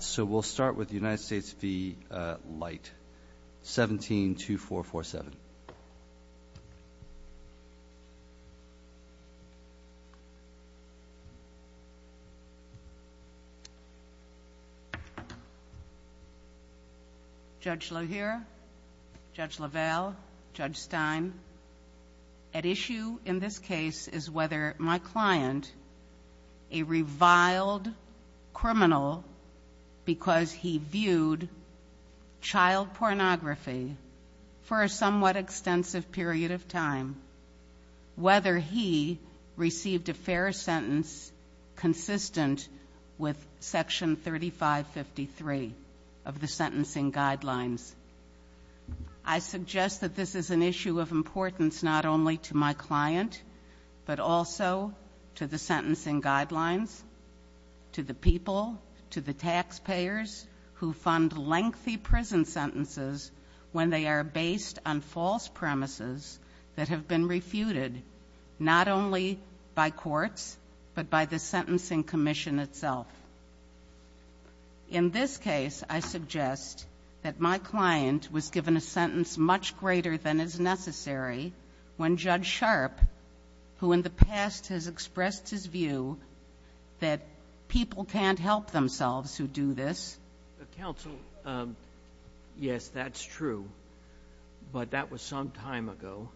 So we'll start with the United States v. Light, 17-2447. Judge Lajere, Judge Lavelle, Judge Stein, at issue in this case is whether my client, because he viewed child pornography for a somewhat extensive period of time, whether he received a fair sentence consistent with Section 3553 of the Sentencing Guidelines. I suggest that this is an issue of importance not only to my client, but also to the Sentencing Guidelines, to the people, to the taxpayers who fund lengthy prison sentences when they are based on false premises that have been refuted, not only by courts, but by the Sentencing Commission itself. In this case, I suggest that my client was given a sentence much greater than is necessary when Judge Sharp, who in the past has expressed his view that people can't help themselves who do this. Counsel, yes, that's true, but that was some time ago,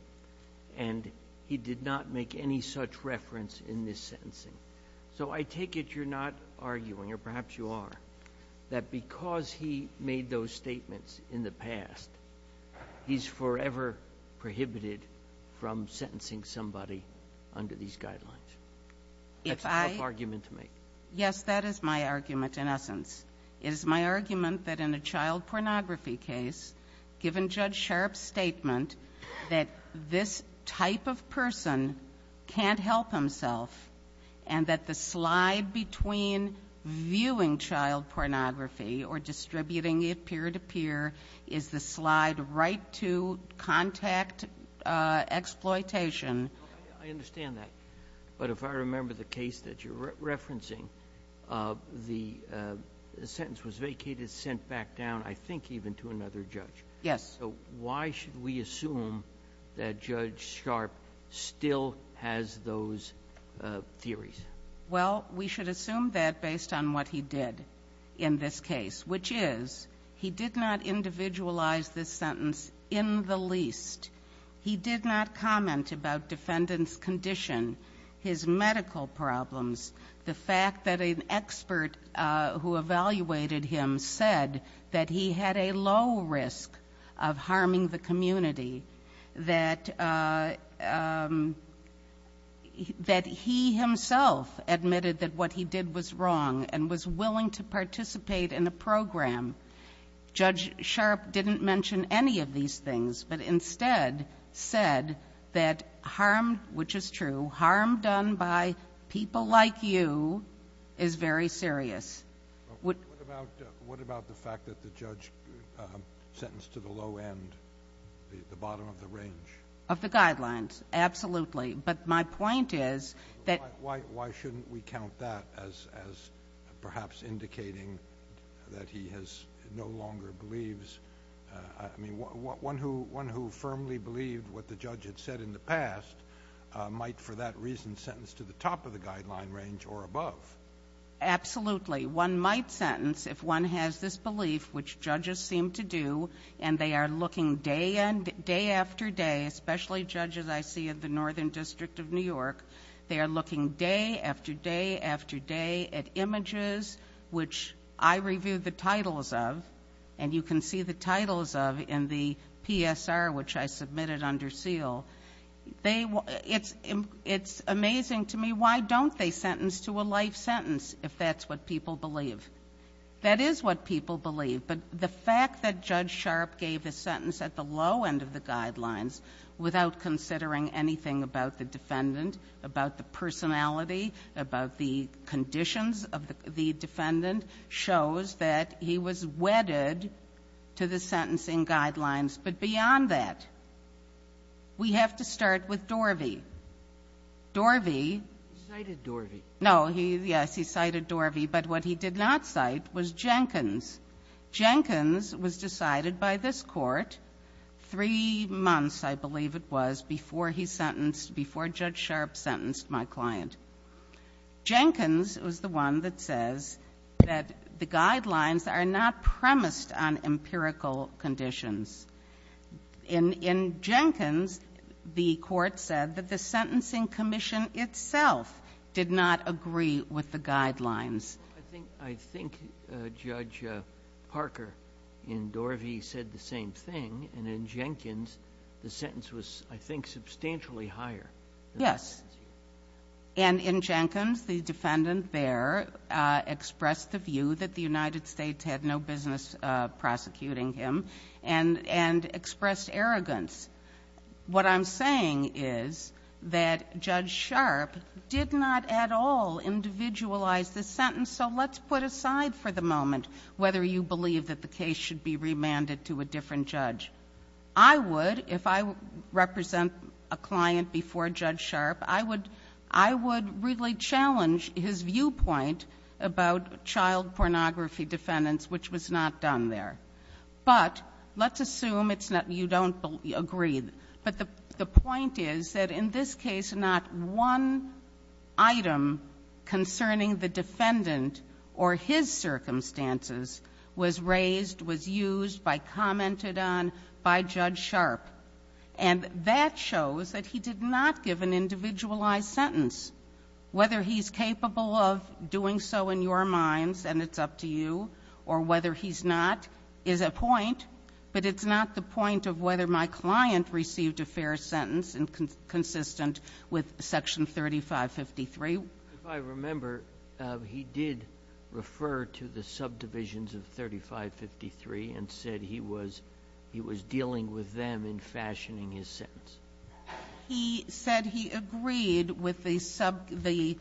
and he did not make any such reference in this sentencing. So I take it you're not arguing, or perhaps you are, that because he made those statements in the past, he's forever prohibited from sentencing somebody under these guidelines. That's a tough argument to make. Yes, that is my argument, in essence. It is my argument that in a child pornography case, given Judge Sharp's statement that this type of person can't help himself, and that the slide between viewing child pornography or distributing it peer-to-peer is the slide right to contact exploitation. I understand that. But if I remember the case that you're referencing, the sentence was vacated, sent back down, I think even to another judge. Yes. So why should we assume that Judge Sharp still has those theories? Well, we should assume that based on what he did in this case, which is he did not individualize this sentence in the least. He did not comment about defendant's condition, his medical problems, the fact that an expert who evaluated him said that he had a low risk of harming the community, that he himself admitted that what he did was wrong, and was willing to participate in a program. Judge Sharp didn't mention any of these things, but instead said that harm, which is true, harm done by people like you is very serious. What about the fact that the judge sentenced to the low end, the bottom of the range? Of the guidelines, absolutely. But my point is that... Why shouldn't we count that as perhaps indicating that he has no longer believes, I mean, one who firmly believed what the judge had said in the past might for that reason sentence to the top of the guideline range or above. Absolutely. One might sentence if one has this belief, which judges seem to do, and they are looking day after day, especially judges I see at the Northern District of New York, they are looking day after day after day at images, which I review the titles of, and you can see the titles of in the PSR, which I submitted under seal. It's amazing to me, why don't they sentence to a life sentence if that's what people believe? That is what people believe, but the fact that Judge Sharpe gave a sentence at the low end of the guidelines without considering anything about the defendant, about the personality, about the conditions of the defendant, shows that he was wedded to the sentencing guidelines. But beyond that, we have to start with Dorvey. Dorvey... Cited Dorvey. No, yes, he cited Dorvey, but what he did not cite was Jenkins. Jenkins was decided by this court three months, I believe it was, before Judge Sharpe sentenced my client. Jenkins was the one that says that the guidelines are not premised on empirical conditions. In Jenkins, the court said that the sentencing commission itself did not agree with the guidelines. I think Judge Parker in Dorvey said the same thing, and in Jenkins, the sentence was, I think, substantially higher. Yes. And in Jenkins, the defendant there expressed the view that the United States had no business prosecuting him, and expressed arrogance. What I'm saying is that Judge Sharpe did not at all individualize this sentence, so let's put aside for the moment whether you believe that the case should be remanded to a different judge. I would, if I represent a client before Judge Sharpe, I would really challenge his viewpoint about child pornography defendants, which was not done there. But let's assume it's not, you don't agree, but the point is that in this case, not one item concerning the defendant or his circumstances was raised, was used, by commented on by Judge Sharpe, and that shows that he did not give an individualized sentence. Whether he's capable of doing so in your minds, and it's up to you, or whether he's not, is a point, but it's not the point of whether my client received a fair sentence and consistent with Section 3553. If I remember, he did refer to the subdivisions of 3553 and said he was dealing with them in fashioning his sentence. He said he agreed with the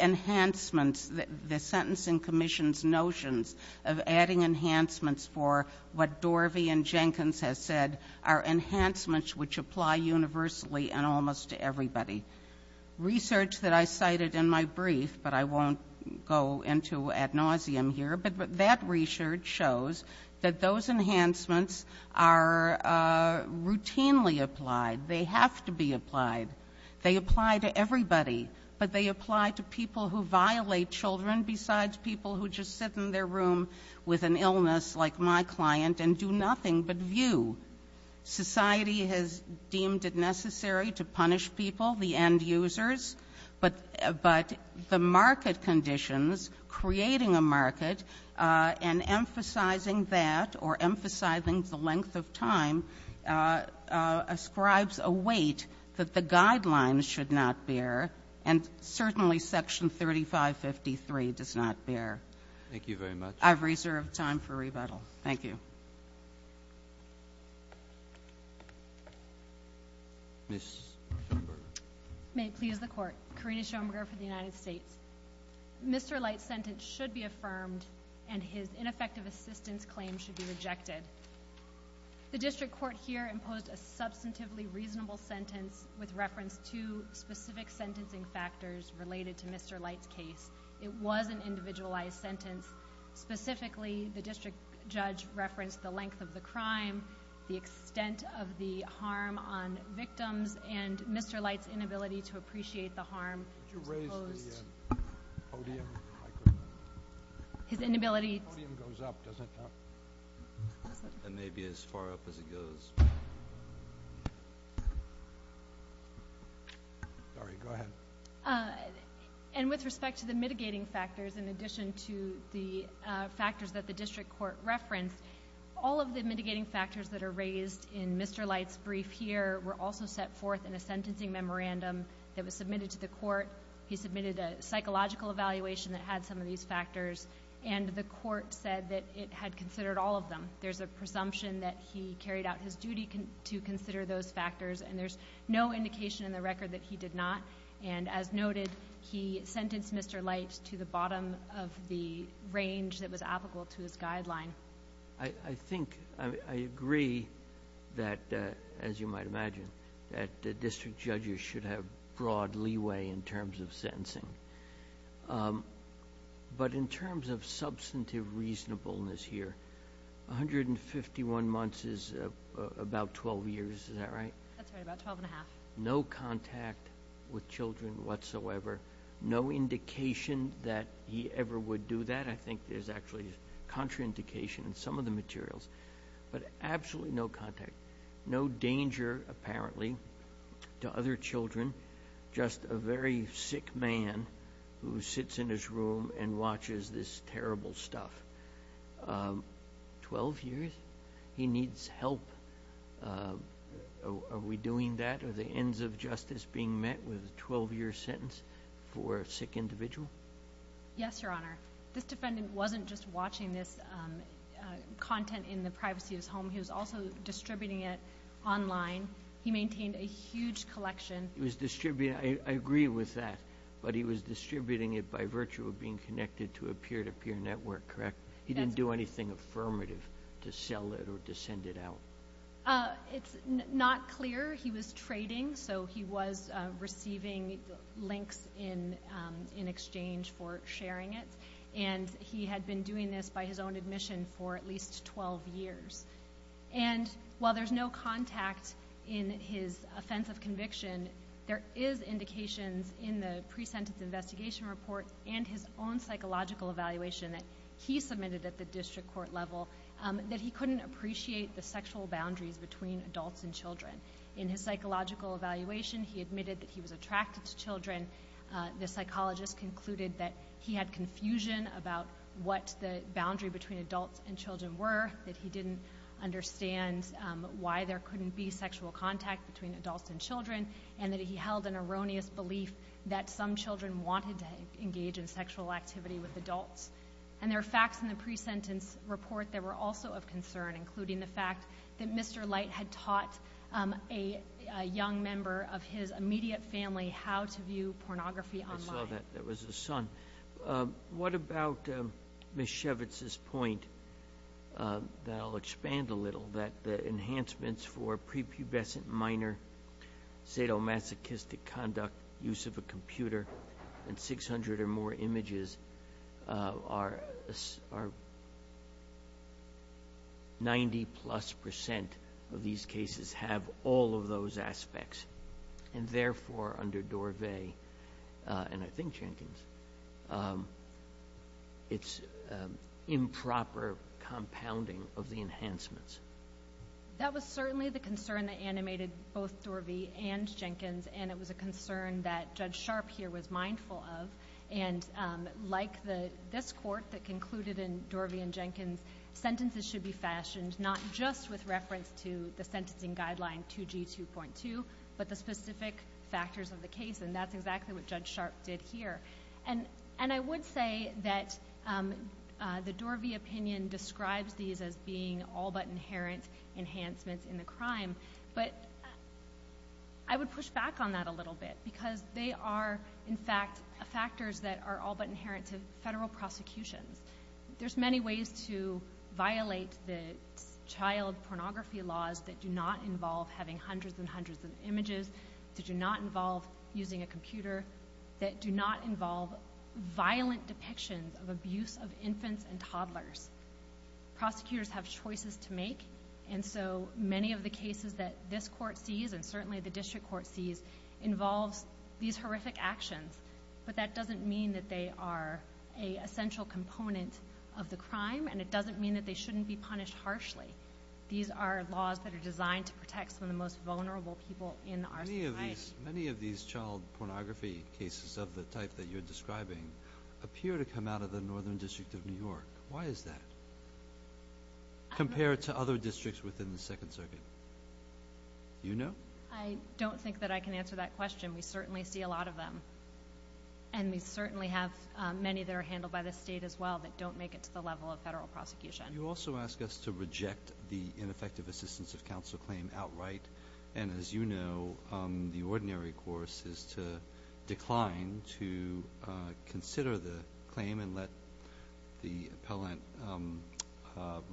enhancements, the Sentencing Commission's notions of adding enhancements for what Dorvey and Jenkins has said are enhancements which apply universally and almost to everybody. Research that I cited in my brief, but I won't go into ad nauseum here, but that research shows that those enhancements are routinely applied. They have to be applied. They apply to everybody, but they apply to people who violate children besides people who just sit in their room with an illness like my client and do nothing but view. Society has deemed it necessary to punish people, the end users, but the market conditions creating a market and emphasizing that or emphasizing the length of time ascribes a weight that the guidelines should not bear, and certainly Section 3553 does not bear. Thank you very much. I've reserved time for rebuttal. Thank you. Ms. Schoenberger. May it please the Court, Karina Schoenberger for the United States. Mr. Light's sentence should be affirmed, and his ineffective assistance claim should be rejected. The district court here imposed a substantively reasonable sentence with reference to specific sentencing factors related to Mr. Light's case. It was an individualized sentence. Specifically, the district judge referenced the length of the crime, the extent of the harm on victims, and Mr. Light's inability to appreciate the harm. Could you raise the podium? His inability The podium goes up, does it not? It may be as far up as it goes. Sorry, go ahead. And with respect to the mitigating factors, in addition to the factors that the district court referenced, all of the mitigating factors that are raised in Mr. Light's brief here were also set forth in a sentencing memorandum that was submitted to the court. He submitted a psychological evaluation that had some of these factors, and the court said that it had considered all of them. There's a presumption that he carried out his duty to consider those factors, and there's no indication in the record that he did not. And as noted, he sentenced Mr. Light to the bottom of the range that was applicable to his guideline. I think, I agree that, as you might imagine, that district judges should have broad leeway in terms of sentencing. But in terms of substantive reasonableness here, 151 months is about 12 years, is that right? That's right, about 12 and a half. No contact with children whatsoever, no indication that he ever would do that. I think there's actually contraindication in some of the materials, but absolutely no contact. No danger, apparently, to other children, just a very sick man who sits in his room and watches this terrible stuff. 12 years? He needs help. Are we doing that? Are the ends of justice being met with a 12-year sentence for a sick individual? Yes, Your Honor. This defendant wasn't just watching this content in the privacy of his home, he was also distributing it online. He maintained a huge collection. He was distributing, I agree with that, but he was distributing it by virtue of being connected to a peer-to-peer network, correct? That's right. He didn't do anything affirmative to sell it or to send it out. It's not clear. He was trading, so he was receiving links in exchange for sharing it. He had been doing this by his own admission for at least 12 years. While there's no contact in his offense of conviction, there is indications in the pre-sentence investigation report and his own psychological evaluation that he submitted at the district court level that he couldn't appreciate the sexual boundaries between adults and children. In his psychological evaluation, he admitted that he was attracted to children. The psychologist concluded that he had confusion about what the boundary between adults and children were, that he didn't understand why there couldn't be sexual contact between adults and children, and that he held an erroneous belief that some children wanted to engage in sexual activity with adults. And there are facts in the pre-sentence report that were also of concern, including the fact that Mr. Light had taught a young member of his immediate family how to view pornography online. I saw that. That was his son. What about Ms. Shevitz's point that I'll expand a little, that the enhancements for prepubescent minor sadomasochistic conduct, use of a computer, and 600 or more images are 90-plus percent of these cases have all of those aspects. And therefore, under Dorvay, and I think Jenkins, it's improper compounding of the enhancements. That was certainly the concern that animated both Dorvay and Jenkins, and it was a concern that Judge Sharp here was mindful of. And like this court that concluded in Dorvay and Jenkins, sentences should be fashioned not just with reference to the sentencing guideline 2G2.2, but the specific factors of the case. And that's exactly what Judge Sharp did here. And I would say that the Dorvay opinion describes these as being all-but-inherent enhancements in the crime, but I would push back on that a little bit because they are, in fact, factors that are all-but-inherent to federal prosecutions. There's many ways to violate the child pornography laws that do not involve having hundreds and hundreds of images, that do not involve using a computer, that do not involve violent depictions of abuse of infants and toddlers. Prosecutors have choices to make, and so many of the cases that this court sees, and certainly the district court sees, involves these horrific actions. But that doesn't mean that they are an essential component of the crime, and it doesn't mean that they shouldn't be punished harshly. These are laws that are designed to protect some of the most vulnerable people in our society. Many of these child pornography cases of the type that you're describing appear to come out of the Northern District of New York. Why is that compared to other districts within the Second Circuit? Do you know? I don't think that I can answer that question. We certainly see a lot of them, and we certainly have many that are handled by the state as well that don't make it to the level of federal prosecution. You also ask us to reject the ineffective assistance of counsel claim outright, and as you know, the ordinary course is to decline to consider the claim and let the appellant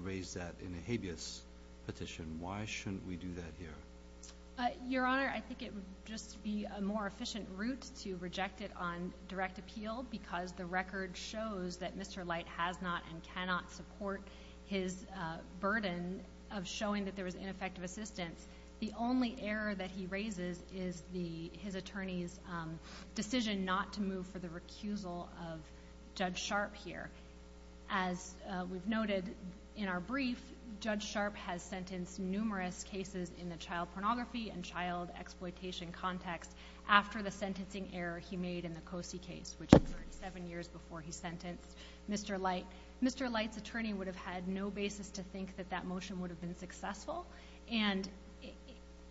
raise that in a habeas petition. Why shouldn't we do that here? Your Honor, I think it would just be a more efficient route to reject it on direct appeal because the record shows that Mr. Light has not and cannot support his burden of showing that there was ineffective assistance. The only error that he raises is his attorney's decision not to move for the recusal of Judge Sharp here. As we've noted in our brief, Judge Sharp has sentenced numerous cases in the child pornography and child Mr. Light's attorney would have had no basis to think that that motion would have been successful, and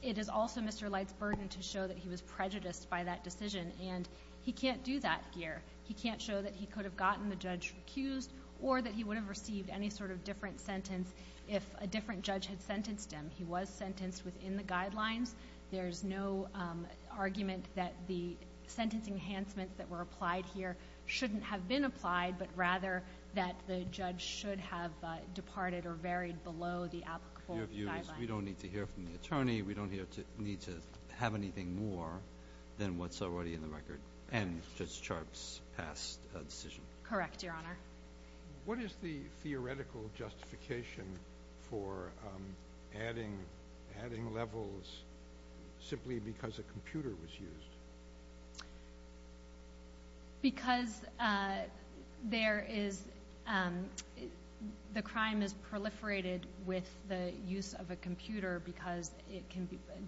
it is also Mr. Light's burden to show that he was prejudiced by that decision, and he can't do that here. He can't show that he could have gotten the judge accused or that he would have received any sort of different sentence if a different judge had sentenced him. He was sentenced within the guidelines. There's no argument that the sentence enhancements that were applied here shouldn't have been applied, but rather that the judge should have departed or varied below the applicable guidelines. Your view is we don't need to hear from the attorney, we don't need to have anything more than what's already in the record, and Judge Sharp's past decision? Correct, Your Honor. What is the theoretical justification for adding levels simply because a computer was used? Because the crime is proliferated with the use of a computer because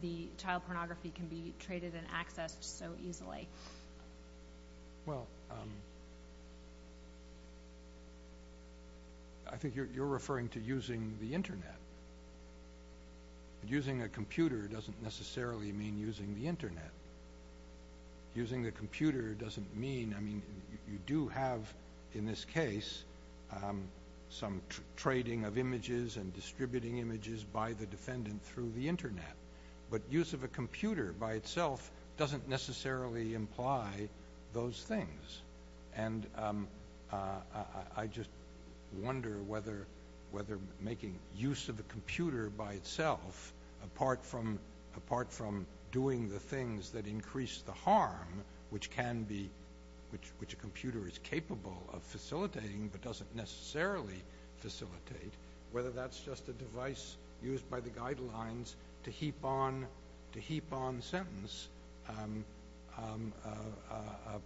the child pornography can be traded and accessed so easily. Well, I think you're referring to using the Internet. Using a computer doesn't necessarily mean using the Internet. Using a computer doesn't mean you do have, in this case, some trading of images and distributing images by the defendant through the Internet, but use of a computer by itself doesn't necessarily imply those things. And I just wonder whether making use of a computer by itself, apart from doing the things that increase the harm which a computer is capable of facilitating but doesn't necessarily facilitate, whether that's just a device used by the guidelines to heap on sentence,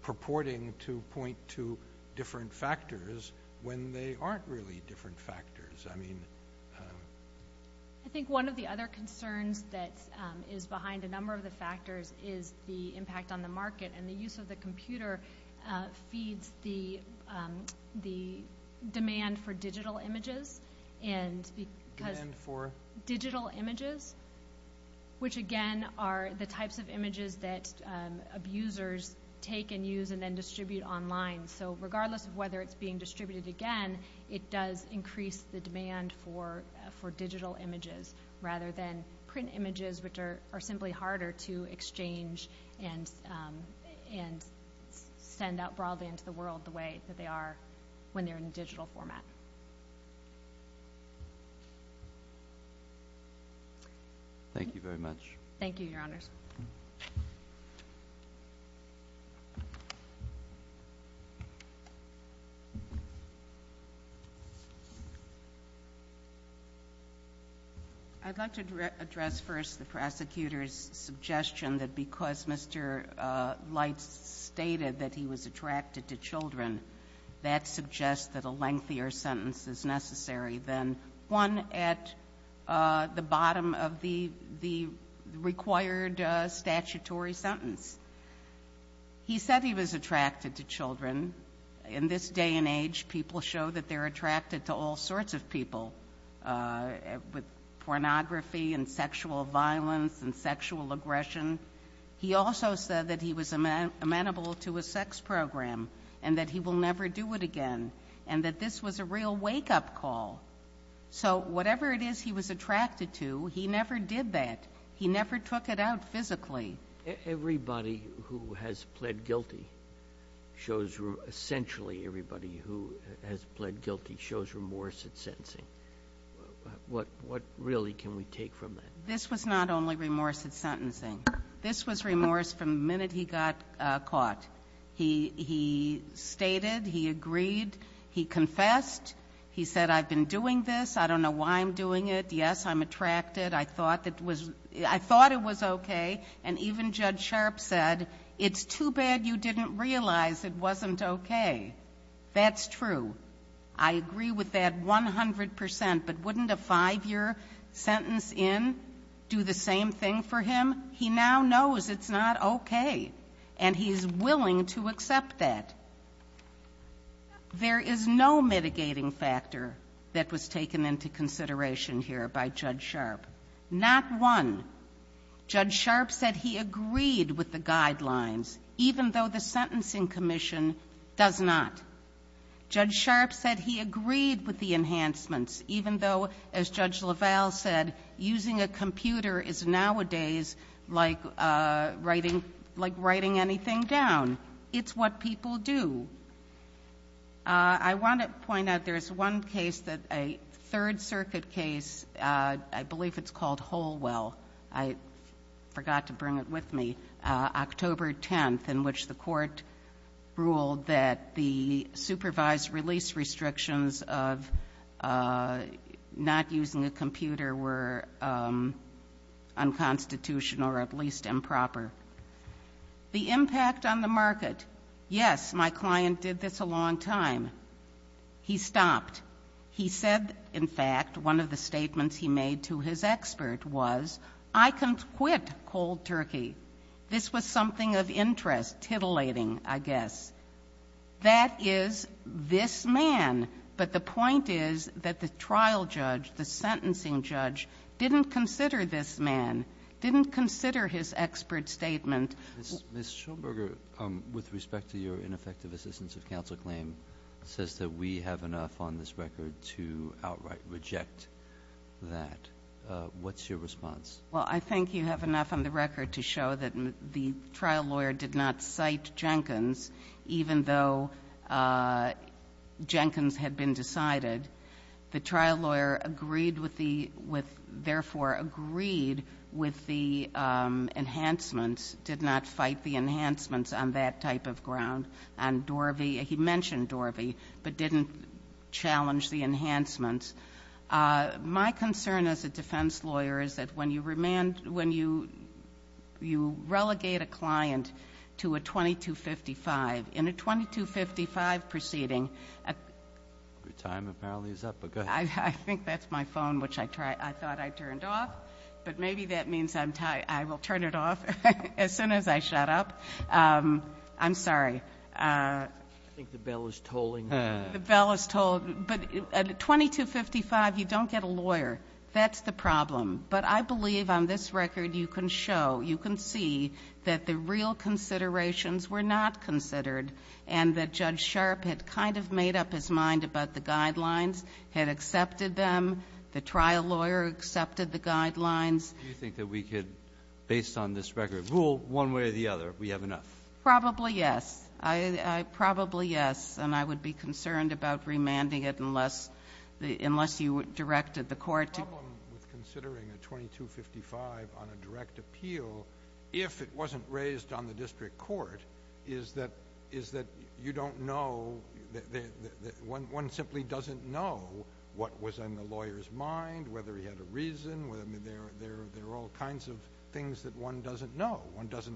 purporting to point to different factors when they aren't really different factors. I think one of the other concerns that is behind a number of the factors is the impact on the market, and the use of the computer feeds the demand for digital images. Demand for? Digital images, which again are the types of images that abusers take and use and then distribute online. So regardless of whether it's being distributed again, it does increase the demand for digital images rather than print images, which are simply harder to exchange and send out broadly into the world the way that they are when they're in a digital format. Thank you very much. Thank you, Your Honors. I'd like to address first the prosecutor's suggestion that because Mr. Leitz stated that he was attracted to children, that suggests that a lengthier sentence is necessary than one at the bottom of the required statutory sentence. He said he was attracted to children. In this day and age, people show that they're attracted to all sorts of people, with pornography and sexual violence and sexual aggression. He also said that he was amenable to a sex program and that he will never do it again and that this was a real wake-up call. So whatever it is he was attracted to, he never did that. He never took it out physically. Everybody who has pled guilty shows, essentially everybody who has pled guilty shows remorse at sentencing. What really can we take from that? This was not only remorse at sentencing. This was remorse from the minute he got caught. He stated, he agreed, he confessed. He said, I've been doing this. I don't know why I'm doing it. Yes, I'm attracted. I thought it was okay. And even Judge Sharpe said, it's too bad you didn't realize it wasn't okay. That's true. I agree with that 100%, but wouldn't a five-year sentence in do the same thing for him? He now knows it's not okay, and he's willing to accept that. There is no mitigating factor that was taken into consideration here by Judge Sharpe. Not one. Judge Sharpe said he agreed with the guidelines, even though the Sentencing Commission does not. Judge Sharpe said he agreed with the enhancements, even though, as Judge LaValle said, using a computer is nowadays like writing anything down. It's what people do. I want to point out there's one case, a Third Circuit case, I believe it's called Holwell. I forgot to bring it with me. October 10th, in which the court ruled that the supervised release restrictions of not using a computer were unconstitutional or at least improper. The impact on the market. Yes, my client did this a long time. He stopped. He said, in fact, one of the statements he made to his expert was, I can quit cold turkey. This was something of interest, titillating, I guess. That is this man. But the point is that the trial judge, the sentencing judge, didn't consider this man, didn't consider his expert statement. Ms. Schoenberger, with respect to your ineffective assistance of counsel claim, says that we have enough on this record to outright reject that. What's your response? Well, I think you have enough on the record to show that the trial lawyer did not cite Jenkins, even though Jenkins had been decided. The trial lawyer therefore agreed with the enhancements, did not fight the enhancements on that type of ground on Dorvey. He mentioned Dorvey, but didn't challenge the enhancements. My concern as a defense lawyer is that when you relegate a client to a 2255, in a 2255 proceeding- Your time apparently is up, but go ahead. I think that's my phone, which I thought I turned off. But maybe that means I will turn it off as soon as I shut up. I'm sorry. I think the bell is tolling. The bell is tolling. But a 2255, you don't get a lawyer. That's the problem. But I believe on this record you can show, you can see that the real considerations were not considered and that Judge Sharp had kind of made up his mind about the guidelines, had accepted them. The trial lawyer accepted the guidelines. Do you think that we could, based on this record, rule one way or the other, we have enough? Probably yes. Probably yes. And I would be concerned about remanding it unless you directed the Court to- The problem with considering a 2255 on a direct appeal, if it wasn't raised on the district court, is that you don't know, one simply doesn't know what was in the lawyer's mind, whether he had a reason, there are all kinds of things that one doesn't know. One doesn't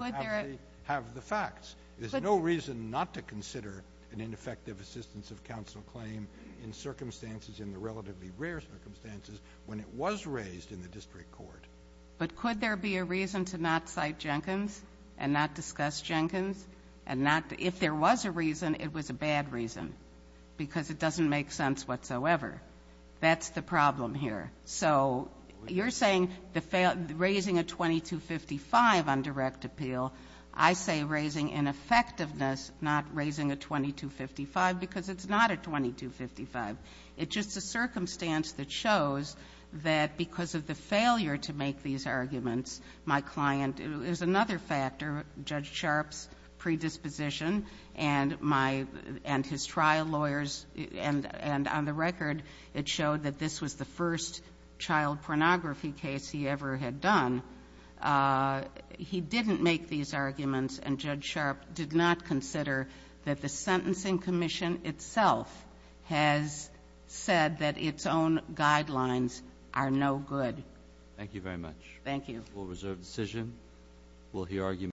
have the facts. There's no reason not to consider an ineffective assistance of counsel claim in circumstances, in the relatively rare circumstances, when it was raised in the district court. But could there be a reason to not cite Jenkins and not discuss Jenkins? If there was a reason, it was a bad reason because it doesn't make sense whatsoever. That's the problem here. So you're saying raising a 2255 on direct appeal, I say raising ineffectiveness, not raising a 2255 because it's not a 2255. It's just a circumstance that shows that because of the failure to make these arguments, my client is another factor, Judge Sharpe's predisposition and my — and his trial lawyers, and on the record it showed that this was the first child pornography case he ever had done. He didn't make these arguments, and Judge Sharpe did not consider that the Sentencing Commission itself has said that its own guidelines are no good. Thank you very much. Thank you.